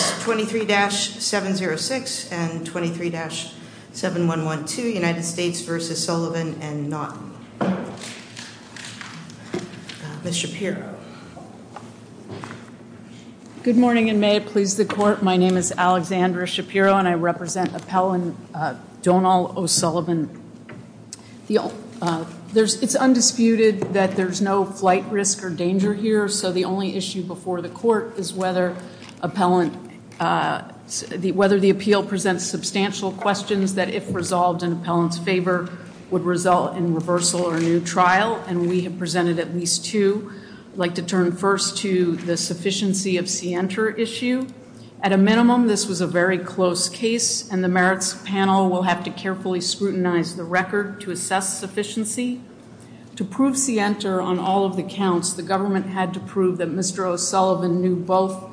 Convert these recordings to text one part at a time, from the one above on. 23-706 and 23-7112 United States v. Sullivan and not Ms. Shapiro. Good morning and may it please the court. My name is Alexandra Shapiro and I represent Appellant Donal O'Sullivan. It's undisputed that there's no flight risk or danger here so the only issue before the court is whether the appeal presents substantial questions that if resolved in Appellant's favor would result in reversal or a new trial and we have presented at least two. I'd like to turn first to the sufficiency of Sienta issue. At a minimum this was a very close case and the merits panel will have to carefully scrutinize the record to assess sufficiency. To prove Sienta on all of the counts the government had to prove that Mr. O'Sullivan knew both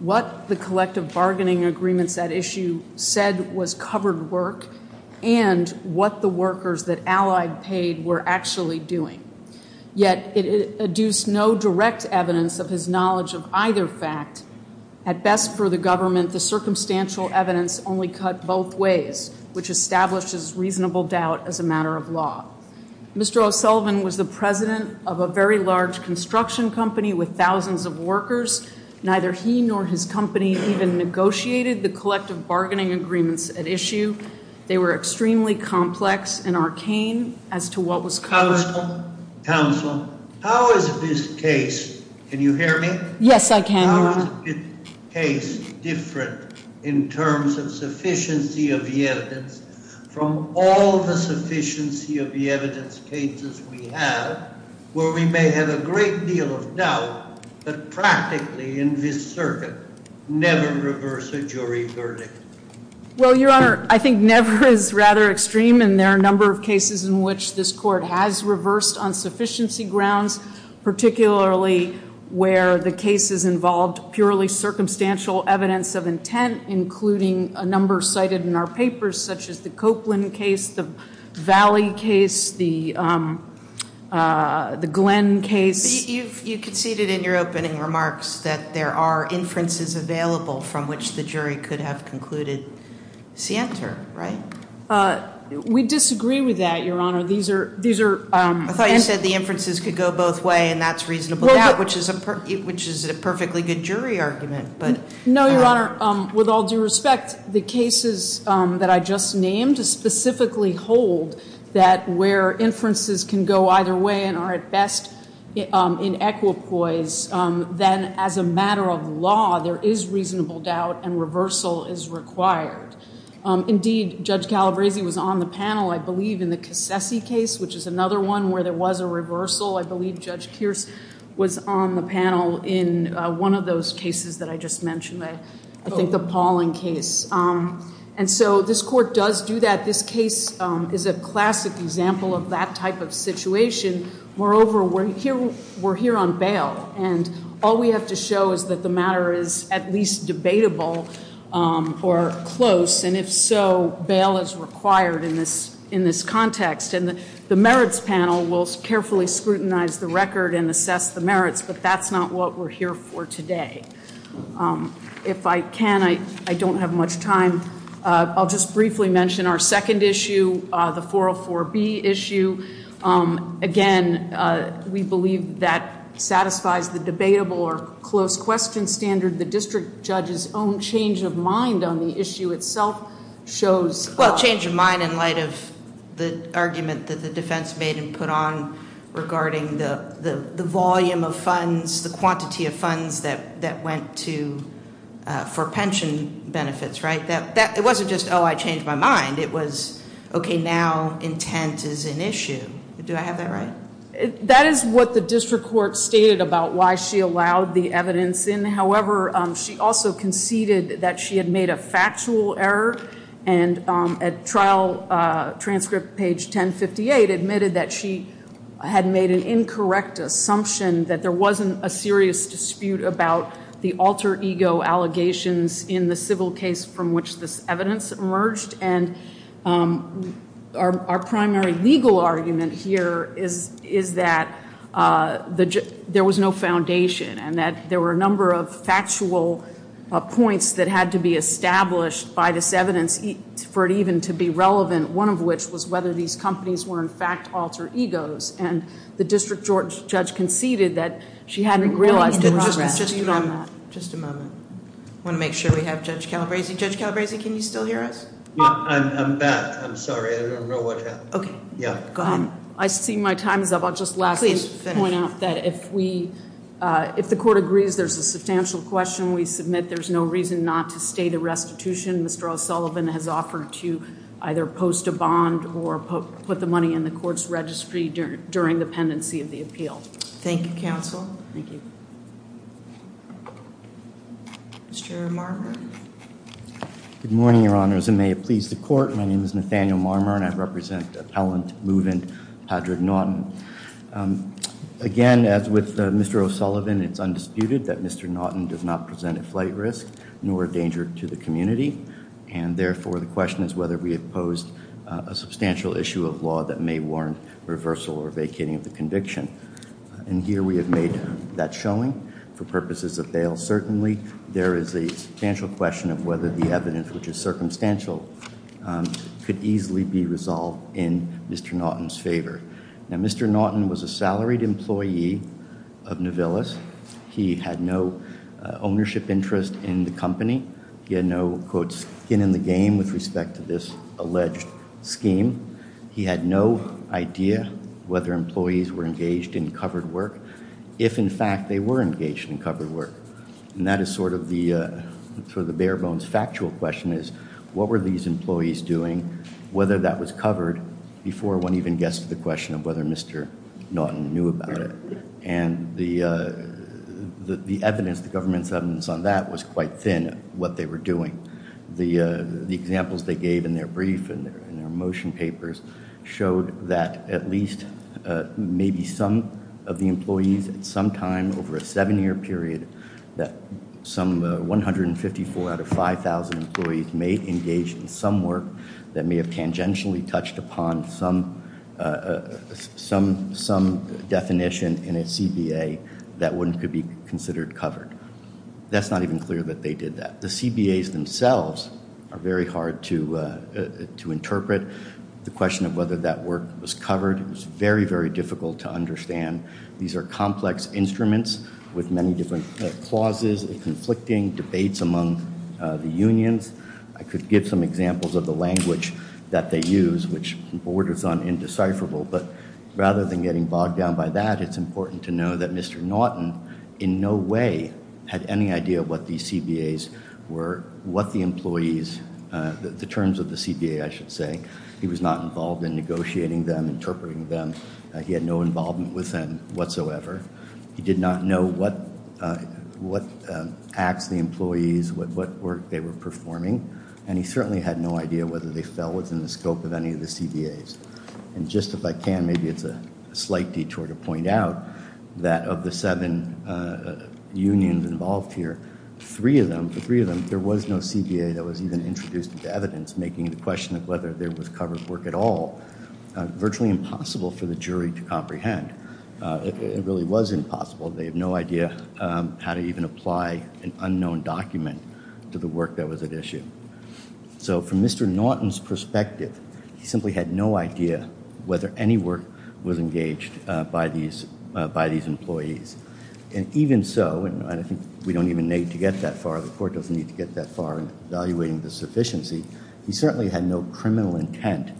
what the collective bargaining agreements at issue said was covered work and what the workers that allied paid were actually doing. Yet it induced no direct evidence of his knowledge of either fact. At best for the government the circumstantial evidence only cut both ways which establishes reasonable doubt as a matter of law. Mr. O'Sullivan was the president of a very large construction company with thousands of workers. Neither he nor his company even negotiated the collective bargaining agreements at issue. They were extremely complex and arcane as to what was covered. Counsel, counsel, how is this case, can you hear me? Yes, I can. How is this case different in terms of sufficiency of the evidence from all the sufficiency of the evidence cases we have where we may have a great deal of doubt but practically in this circuit never reverse a jury verdict? Well, Your Honor, I think never is rather extreme and there are a number of cases in which this court has reversed on sufficiency grounds. Particularly where the cases involved purely circumstantial evidence of intent including a number cited in our papers such as the Copeland case, the Valley case, the Glenn case. You conceded in your opening remarks that there are inferences available from which the jury could have concluded scienter, right? We disagree with that, Your Honor. I thought you said the inferences could go both ways and that's reasonable doubt which is a perfectly good jury argument. No, Your Honor. With all due respect, the cases that I just named specifically hold that where inferences can go either way and are at best in equipoise, then as a matter of law, there is reasonable doubt and reversal is required. Indeed, Judge Calabresi was on the panel, I believe, in the Cassessi case which is another one where there was a reversal. I believe Judge Kearse was on the panel in one of those cases that I just mentioned, I think the Pauling case. And so this court does do that. This case is a classic example of that type of situation. Moreover, we're here on bail and all we have to show is that the matter is at least debatable or close and if so, bail is required in this context. And the merits panel will carefully scrutinize the record and assess the merits, but that's not what we're here for today. If I can, I don't have much time. I'll just briefly mention our second issue, the 404B issue. Again, we believe that satisfies the debatable or close question standard. The district judge's own change of mind on the issue itself shows. Well, change of mind in light of the argument that the defense made and put on regarding the volume of funds, the quantity of funds that went to for pension benefits, right? It wasn't just, oh, I changed my mind. It was, okay, now intent is an issue. Do I have that right? That is what the district court stated about why she allowed the evidence in. However, she also conceded that she had made a factual error and at trial transcript page 1058, admitted that she had made an incorrect assumption that there wasn't a serious dispute about the alter ego allegations in the civil case from which this evidence emerged. And our primary legal argument here is that there was no foundation and that there were a number of factual points that had to be established by this evidence for it even to be relevant, one of which was whether these companies were, in fact, alter egos. And the district judge conceded that she hadn't realized the progress. Just a moment. Just a moment. I want to make sure we have Judge Calabresi. Judge Calabresi, can you still hear us? I'm back. I'm sorry. I don't know what happened. Okay. Go ahead. I see my time is up. I'll just lastly point out that if the court agrees there's a substantial question we submit, there's no reason not to stay the restitution Mr. O'Sullivan has offered to either post a bond or put the money in the court's registry during the pendency of the appeal. Thank you, counsel. Thank you. Mr. Marmor. Good morning, Your Honors. And may it please the court, my name is Nathaniel Marmor and I represent appellant move-in Padraig Naughton. Again, as with Mr. O'Sullivan, it's undisputed that Mr. Naughton does not present a flight risk nor a danger to the community. And therefore, the question is whether we have posed a substantial issue of law that may warrant reversal or vacating of the conviction. And here we have made that showing for purposes of bail. Certainly, there is a substantial question of whether the evidence, which is circumstantial, could easily be resolved in Mr. Naughton's favor. Now, Mr. Naughton was a salaried employee of Nuvillus. He had no ownership interest in the company. He had no, quote, skin in the game with respect to this alleged scheme. He had no idea whether employees were engaged in covered work, if in fact they were engaged in covered work. And that is sort of the bare bones factual question is, what were these employees doing, whether that was covered, before one even gets to the question of whether Mr. Naughton knew about it. And the evidence, the government's evidence on that was quite thin, what they were doing. The examples they gave in their brief and their motion papers showed that at least maybe some of the employees at some time over a seven-year period, that some 154 out of 5,000 employees may engage in some work that may have tangentially touched upon some definition in a CBA that could be considered covered. That's not even clear that they did that. The CBAs themselves are very hard to interpret. The question of whether that work was covered was very, very difficult to understand. These are complex instruments with many different clauses, conflicting debates among the unions. I could give some examples of the language that they use, which borders on indecipherable. But rather than getting bogged down by that, it's important to know that Mr. Naughton in no way had any idea what these CBAs were, what the employees, the terms of the CBA, I should say. He was not involved in negotiating them, interpreting them. He had no involvement with them whatsoever. He did not know what acts the employees, what work they were performing, and he certainly had no idea whether they fell within the scope of any of the CBAs. And just if I can, maybe it's a slight detour to point out that of the seven unions involved here, three of them, there was no CBA that was even introduced into evidence, making the question of whether there was covered work at all virtually impossible for the jury to comprehend. It really was impossible. They have no idea how to even apply an unknown document to the work that was at issue. So from Mr. Naughton's perspective, he simply had no idea whether any work was engaged by these employees. And even so, and I think we don't even need to get that far, the court doesn't need to get that far in evaluating the sufficiency, he certainly had no criminal intent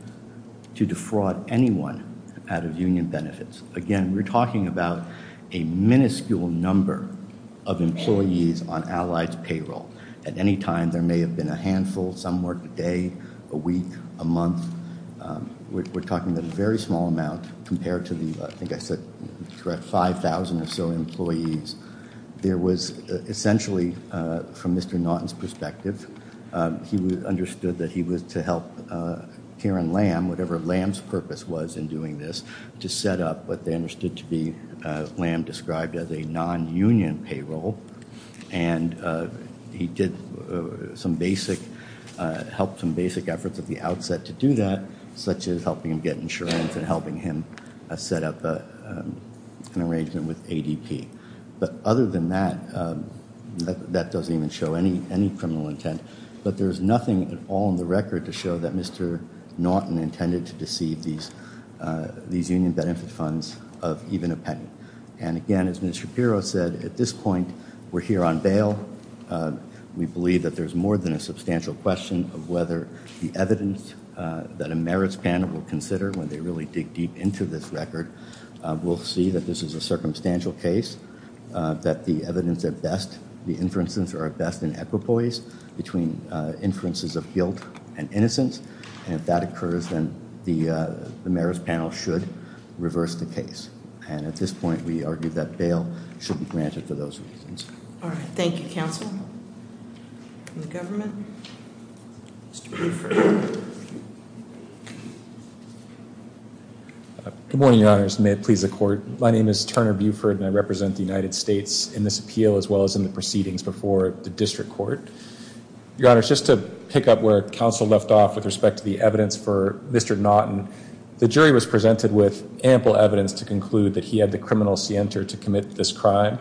to defraud anyone out of union benefits. Again, we're talking about a minuscule number of employees on Allied's payroll. At any time, there may have been a handful, some work a day, a week, a month. We're talking about a very small amount compared to the, I think I said 5,000 or so employees. There was essentially, from Mr. Naughton's perspective, he understood that he was to help Karen Lamb, whatever Lamb's purpose was in doing this, to set up what they understood to be, Lamb described as a non-union payroll. And he did some basic, helped some basic efforts at the outset to do that, such as helping him get insurance and helping him set up an arrangement with ADP. But other than that, that doesn't even show any criminal intent. But there's nothing at all in the record to show that Mr. Naughton intended to deceive these union benefit funds of even a penny. And again, as Ms. Shapiro said, at this point, we're here on bail. We believe that there's more than a substantial question of whether the evidence that a merits panel will consider when they really dig deep into this record, we'll see that this is a circumstantial case, that the evidence at best, the inferences are at best in equipoise between inferences of guilt and innocence. And if that occurs, then the merits panel should reverse the case. And at this point, we argue that bail should be granted for those reasons. All right. Thank you, counsel. From the government, Mr. Buford. Good morning, your honors. May it please the court. My name is Turner Buford and I represent the United States in this appeal as well as in the proceedings before the district court. Your honors, just to pick up where counsel left off with respect to the evidence for Mr. Naughton, the jury was presented with ample evidence to conclude that he had the criminal center to commit this crime.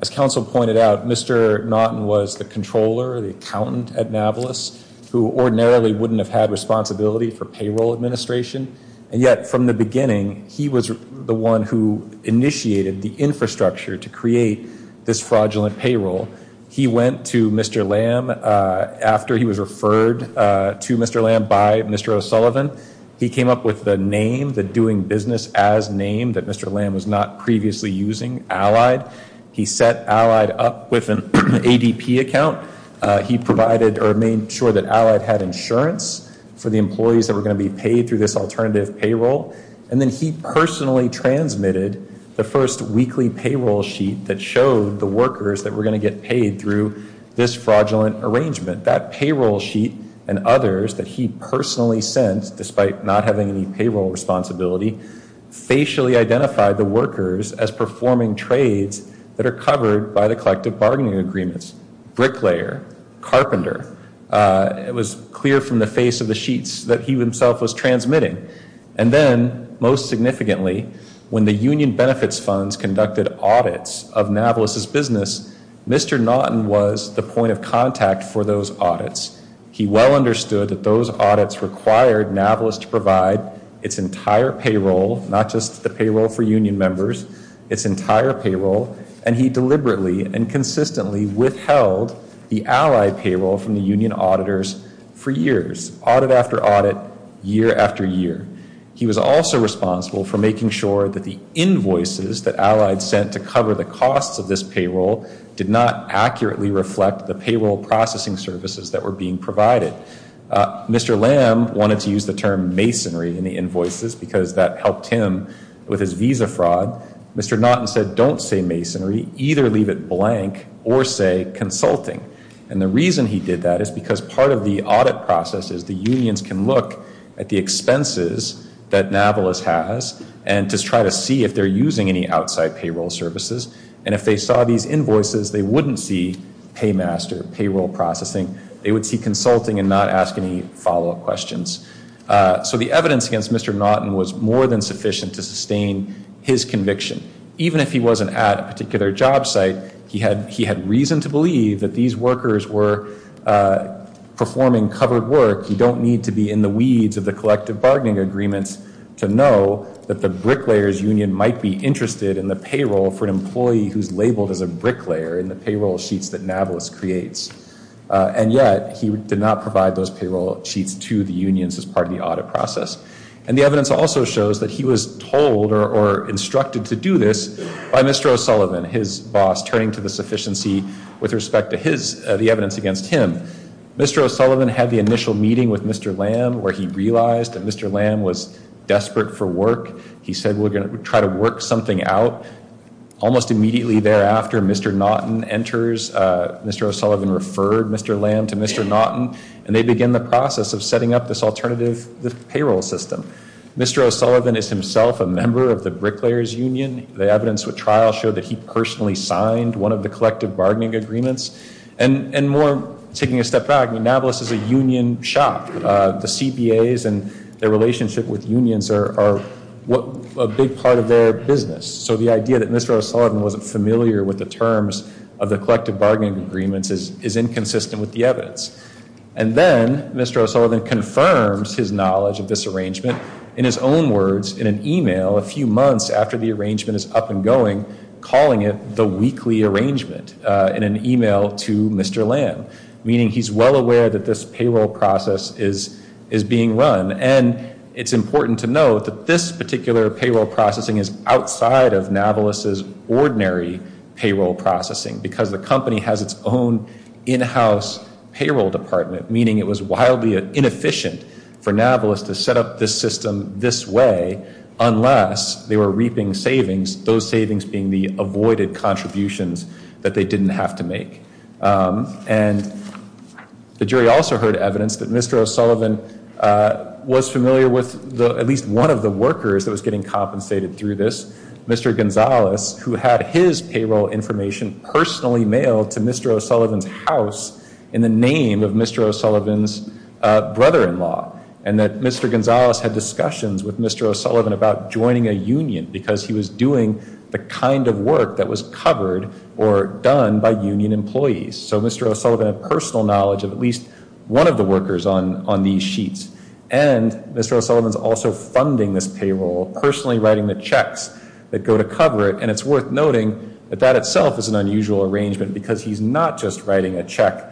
As counsel pointed out, Mr. Naughton was the controller, the accountant at Navalis, who ordinarily wouldn't have had responsibility for payroll administration. And yet from the beginning, he was the one who initiated the infrastructure to create this fraudulent payroll. He went to Mr. Lamb after he was referred to Mr. Lamb by Mr. O'Sullivan. He came up with the name, the doing business as name that Mr. Lamb was not previously using, Allied. He set Allied up with an ADP account. He provided or made sure that Allied had insurance for the employees that were going to be paid through this alternative payroll. And then he personally transmitted the first weekly payroll sheet that showed the workers that were going to get paid through this fraudulent arrangement. That payroll sheet and others that he personally sent, despite not having any payroll responsibility, facially identified the workers as performing trades that are covered by the collective bargaining agreements. Bricklayer, carpenter. It was clear from the face of the sheets that he himself was transmitting. And then most significantly, when the union benefits funds conducted audits of Navalis' business, Mr. Naughton was the point of contact for those audits. He well understood that those audits required Navalis to provide its entire payroll, not just the payroll for union members, its entire payroll, and he deliberately and consistently withheld the Allied payroll from the union auditors for years. Audit after audit, year after year. He was also responsible for making sure that the invoices that Allied sent to cover the costs of this payroll did not accurately reflect the payroll processing services that were being provided. Mr. Lamb wanted to use the term masonry in the invoices because that helped him with his visa fraud. Mr. Naughton said, don't say masonry. Either leave it blank or say consulting. And the reason he did that is because part of the audit process is the unions can look at the expenses that Navalis has and just try to see if they're using any outside payroll services. And if they saw these invoices, they wouldn't see paymaster, payroll processing. They would see consulting and not ask any follow-up questions. So the evidence against Mr. Naughton was more than sufficient to sustain his conviction. Even if he wasn't at a particular job site, he had reason to believe that these workers were performing covered work. You don't need to be in the weeds of the collective bargaining agreements to know that the bricklayers union might be interested in the payroll for an employee who's labeled as a bricklayer in the payroll sheets that Navalis creates. And yet he did not provide those payroll sheets to the unions as part of the audit process. And the evidence also shows that he was told or instructed to do this by Mr. O'Sullivan, his boss, turning to the sufficiency with respect to the evidence against him. Mr. O'Sullivan had the initial meeting with Mr. Lamb where he realized that Mr. Lamb was desperate for work. He said we're going to try to work something out. Almost immediately thereafter, Mr. Naughton enters. Mr. O'Sullivan referred Mr. Lamb to Mr. Naughton. And they begin the process of setting up this alternative payroll system. Mr. O'Sullivan is himself a member of the bricklayers union. The evidence with trial showed that he personally signed one of the collective bargaining agreements. And more taking a step back, Navalis is a union shop. The CBAs and their relationship with unions are a big part of their business. So the idea that Mr. O'Sullivan wasn't familiar with the terms of the collective bargaining agreements is inconsistent with the evidence. And then Mr. O'Sullivan confirms his knowledge of this arrangement in his own words in an e-mail a few months after the arrangement is up and going, calling it the weekly arrangement in an e-mail to Mr. Lamb. Meaning he's well aware that this payroll process is being run. And it's important to note that this particular payroll processing is outside of Navalis' ordinary payroll processing because the company has its own in-house payroll department, meaning it was wildly inefficient for Navalis to set up this system this way unless they were reaping savings, those savings being the avoided contributions that they didn't have to make. And the jury also heard evidence that Mr. O'Sullivan was familiar with at least one of the workers that was getting compensated through this, Mr. Gonzales, who had his payroll information personally mailed to Mr. O'Sullivan's house in the name of Mr. O'Sullivan's brother-in-law. And that Mr. Gonzales had discussions with Mr. O'Sullivan about joining a union because he was doing the kind of work that was covered or done by union employees. So Mr. O'Sullivan had personal knowledge of at least one of the workers on these sheets. And Mr. O'Sullivan's also funding this payroll, personally writing the checks that go to cover it. And it's worth noting that that itself is an unusual arrangement because he's not just writing a check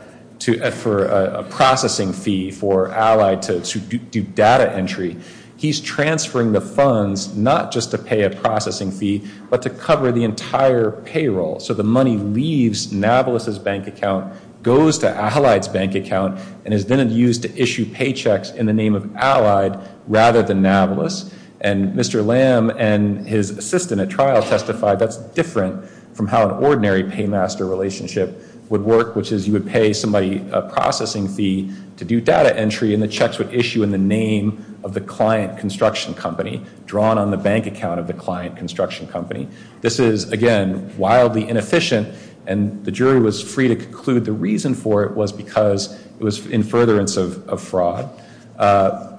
for a processing fee for Allied to do data entry. He's transferring the funds not just to pay a processing fee but to cover the entire payroll. So the money leaves Nablus's bank account, goes to Allied's bank account, and is then used to issue paychecks in the name of Allied rather than Nablus. And Mr. Lamb and his assistant at trial testified that's different from how an ordinary paymaster relationship would work, which is you would pay somebody a processing fee to do data entry, and the checks would issue in the name of the client construction company, drawn on the bank account of the client construction company. This is, again, wildly inefficient. And the jury was free to conclude the reason for it was because it was in furtherance of fraud.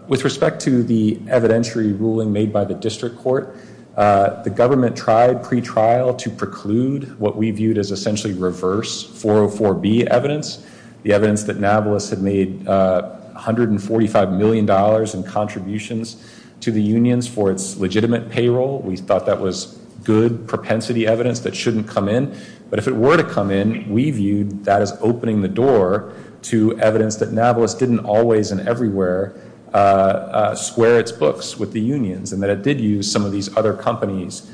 With respect to the evidentiary ruling made by the district court, the government tried pretrial to preclude what we viewed as essentially reverse 404B evidence, the evidence that Nablus had made $145 million in contributions to the unions for its legitimate payroll. We thought that was good propensity evidence that shouldn't come in. But if it were to come in, we viewed that as opening the door to evidence that Nablus didn't always and everywhere square its books with the unions and that it did use some of these other companies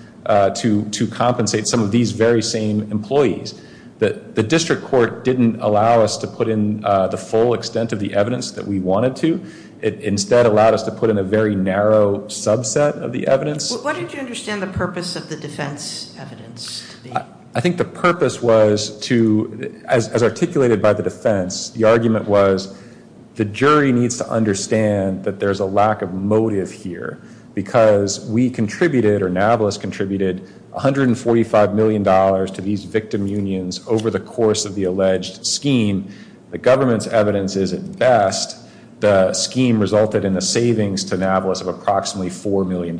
to compensate some of these very same employees. The district court didn't allow us to put in the full extent of the evidence that we wanted to. It instead allowed us to put in a very narrow subset of the evidence. What did you understand the purpose of the defense evidence to be? I think the purpose was to, as articulated by the defense, the argument was the jury needs to understand that there's a lack of motive here because we contributed, or Nablus contributed, $145 million to these victim unions over the course of the alleged scheme. The government's evidence is at best the scheme resulted in the savings to Nablus of approximately $4 million.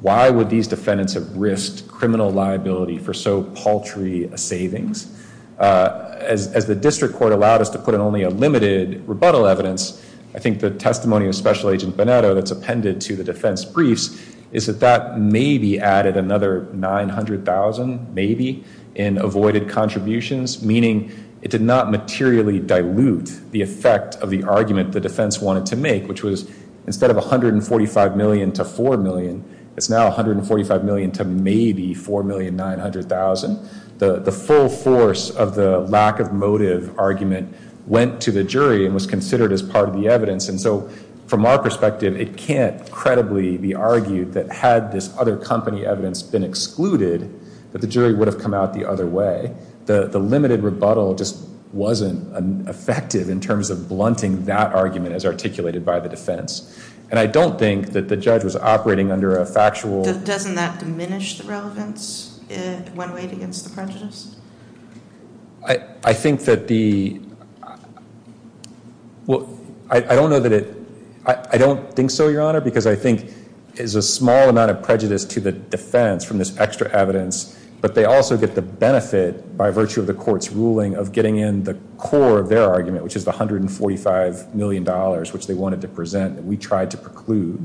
Why would these defendants have risked criminal liability for so paltry a savings? As the district court allowed us to put in only a limited rebuttal evidence, I think the testimony of Special Agent Bonetto that's appended to the defense briefs is that that maybe added another $900,000, maybe, in avoided contributions, meaning it did not materially dilute the effect of the argument the defense wanted to make, which was instead of $145 million to $4 million, it's now $145 million to maybe $4,900,000. The full force of the lack of motive argument went to the jury and was considered as part of the evidence. And so from our perspective, it can't credibly be argued that had this other company evidence been excluded, that the jury would have come out the other way. The limited rebuttal just wasn't effective in terms of blunting that argument as articulated by the defense. And I don't think that the judge was operating under a factual— Doesn't that diminish the relevance when weighed against the prejudice? I think that the—well, I don't know that it—I don't think so, Your Honor, because I think it is a small amount of prejudice to the defense from this extra evidence, but they also get the benefit by virtue of the court's ruling of getting in the core of their argument, which is the $145 million which they wanted to present and we tried to preclude.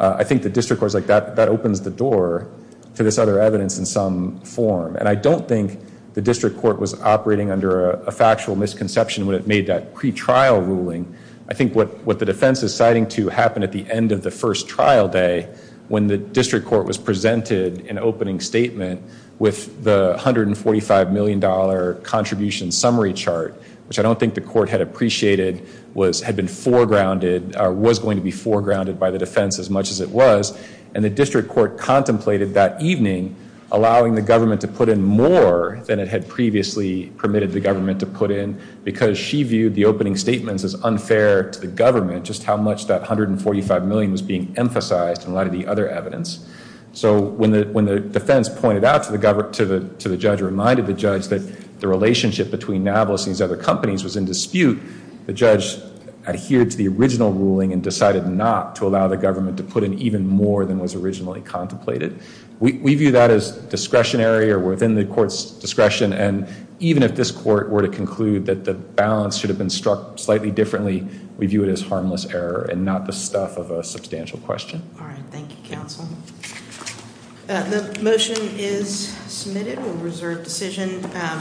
I think the district court is like, that opens the door to this other evidence in some form. And I don't think the district court was operating under a factual misconception when it made that pretrial ruling. I think what the defense is citing to happen at the end of the first trial day, when the district court was presented an opening statement with the $145 million contribution summary chart, which I don't think the court had appreciated, was—had been foregrounded, was going to be foregrounded by the defense as much as it was, and the district court contemplated that evening allowing the government to put in more than it had previously permitted the government to put in because she viewed the opening statements as unfair to the government, just how much that $145 million was being emphasized in light of the other evidence. So when the defense pointed out to the judge, reminded the judge, that the relationship between Nablus and these other companies was in dispute, the judge adhered to the original ruling and decided not to allow the government to put in even more than was originally contemplated. We view that as discretionary or within the court's discretion, and even if this court were to conclude that the balance should have been struck slightly differently, we view it as harmless error and not the stuff of a substantial question. All right. Thank you, counsel. The motion is submitted. We'll reserve decision.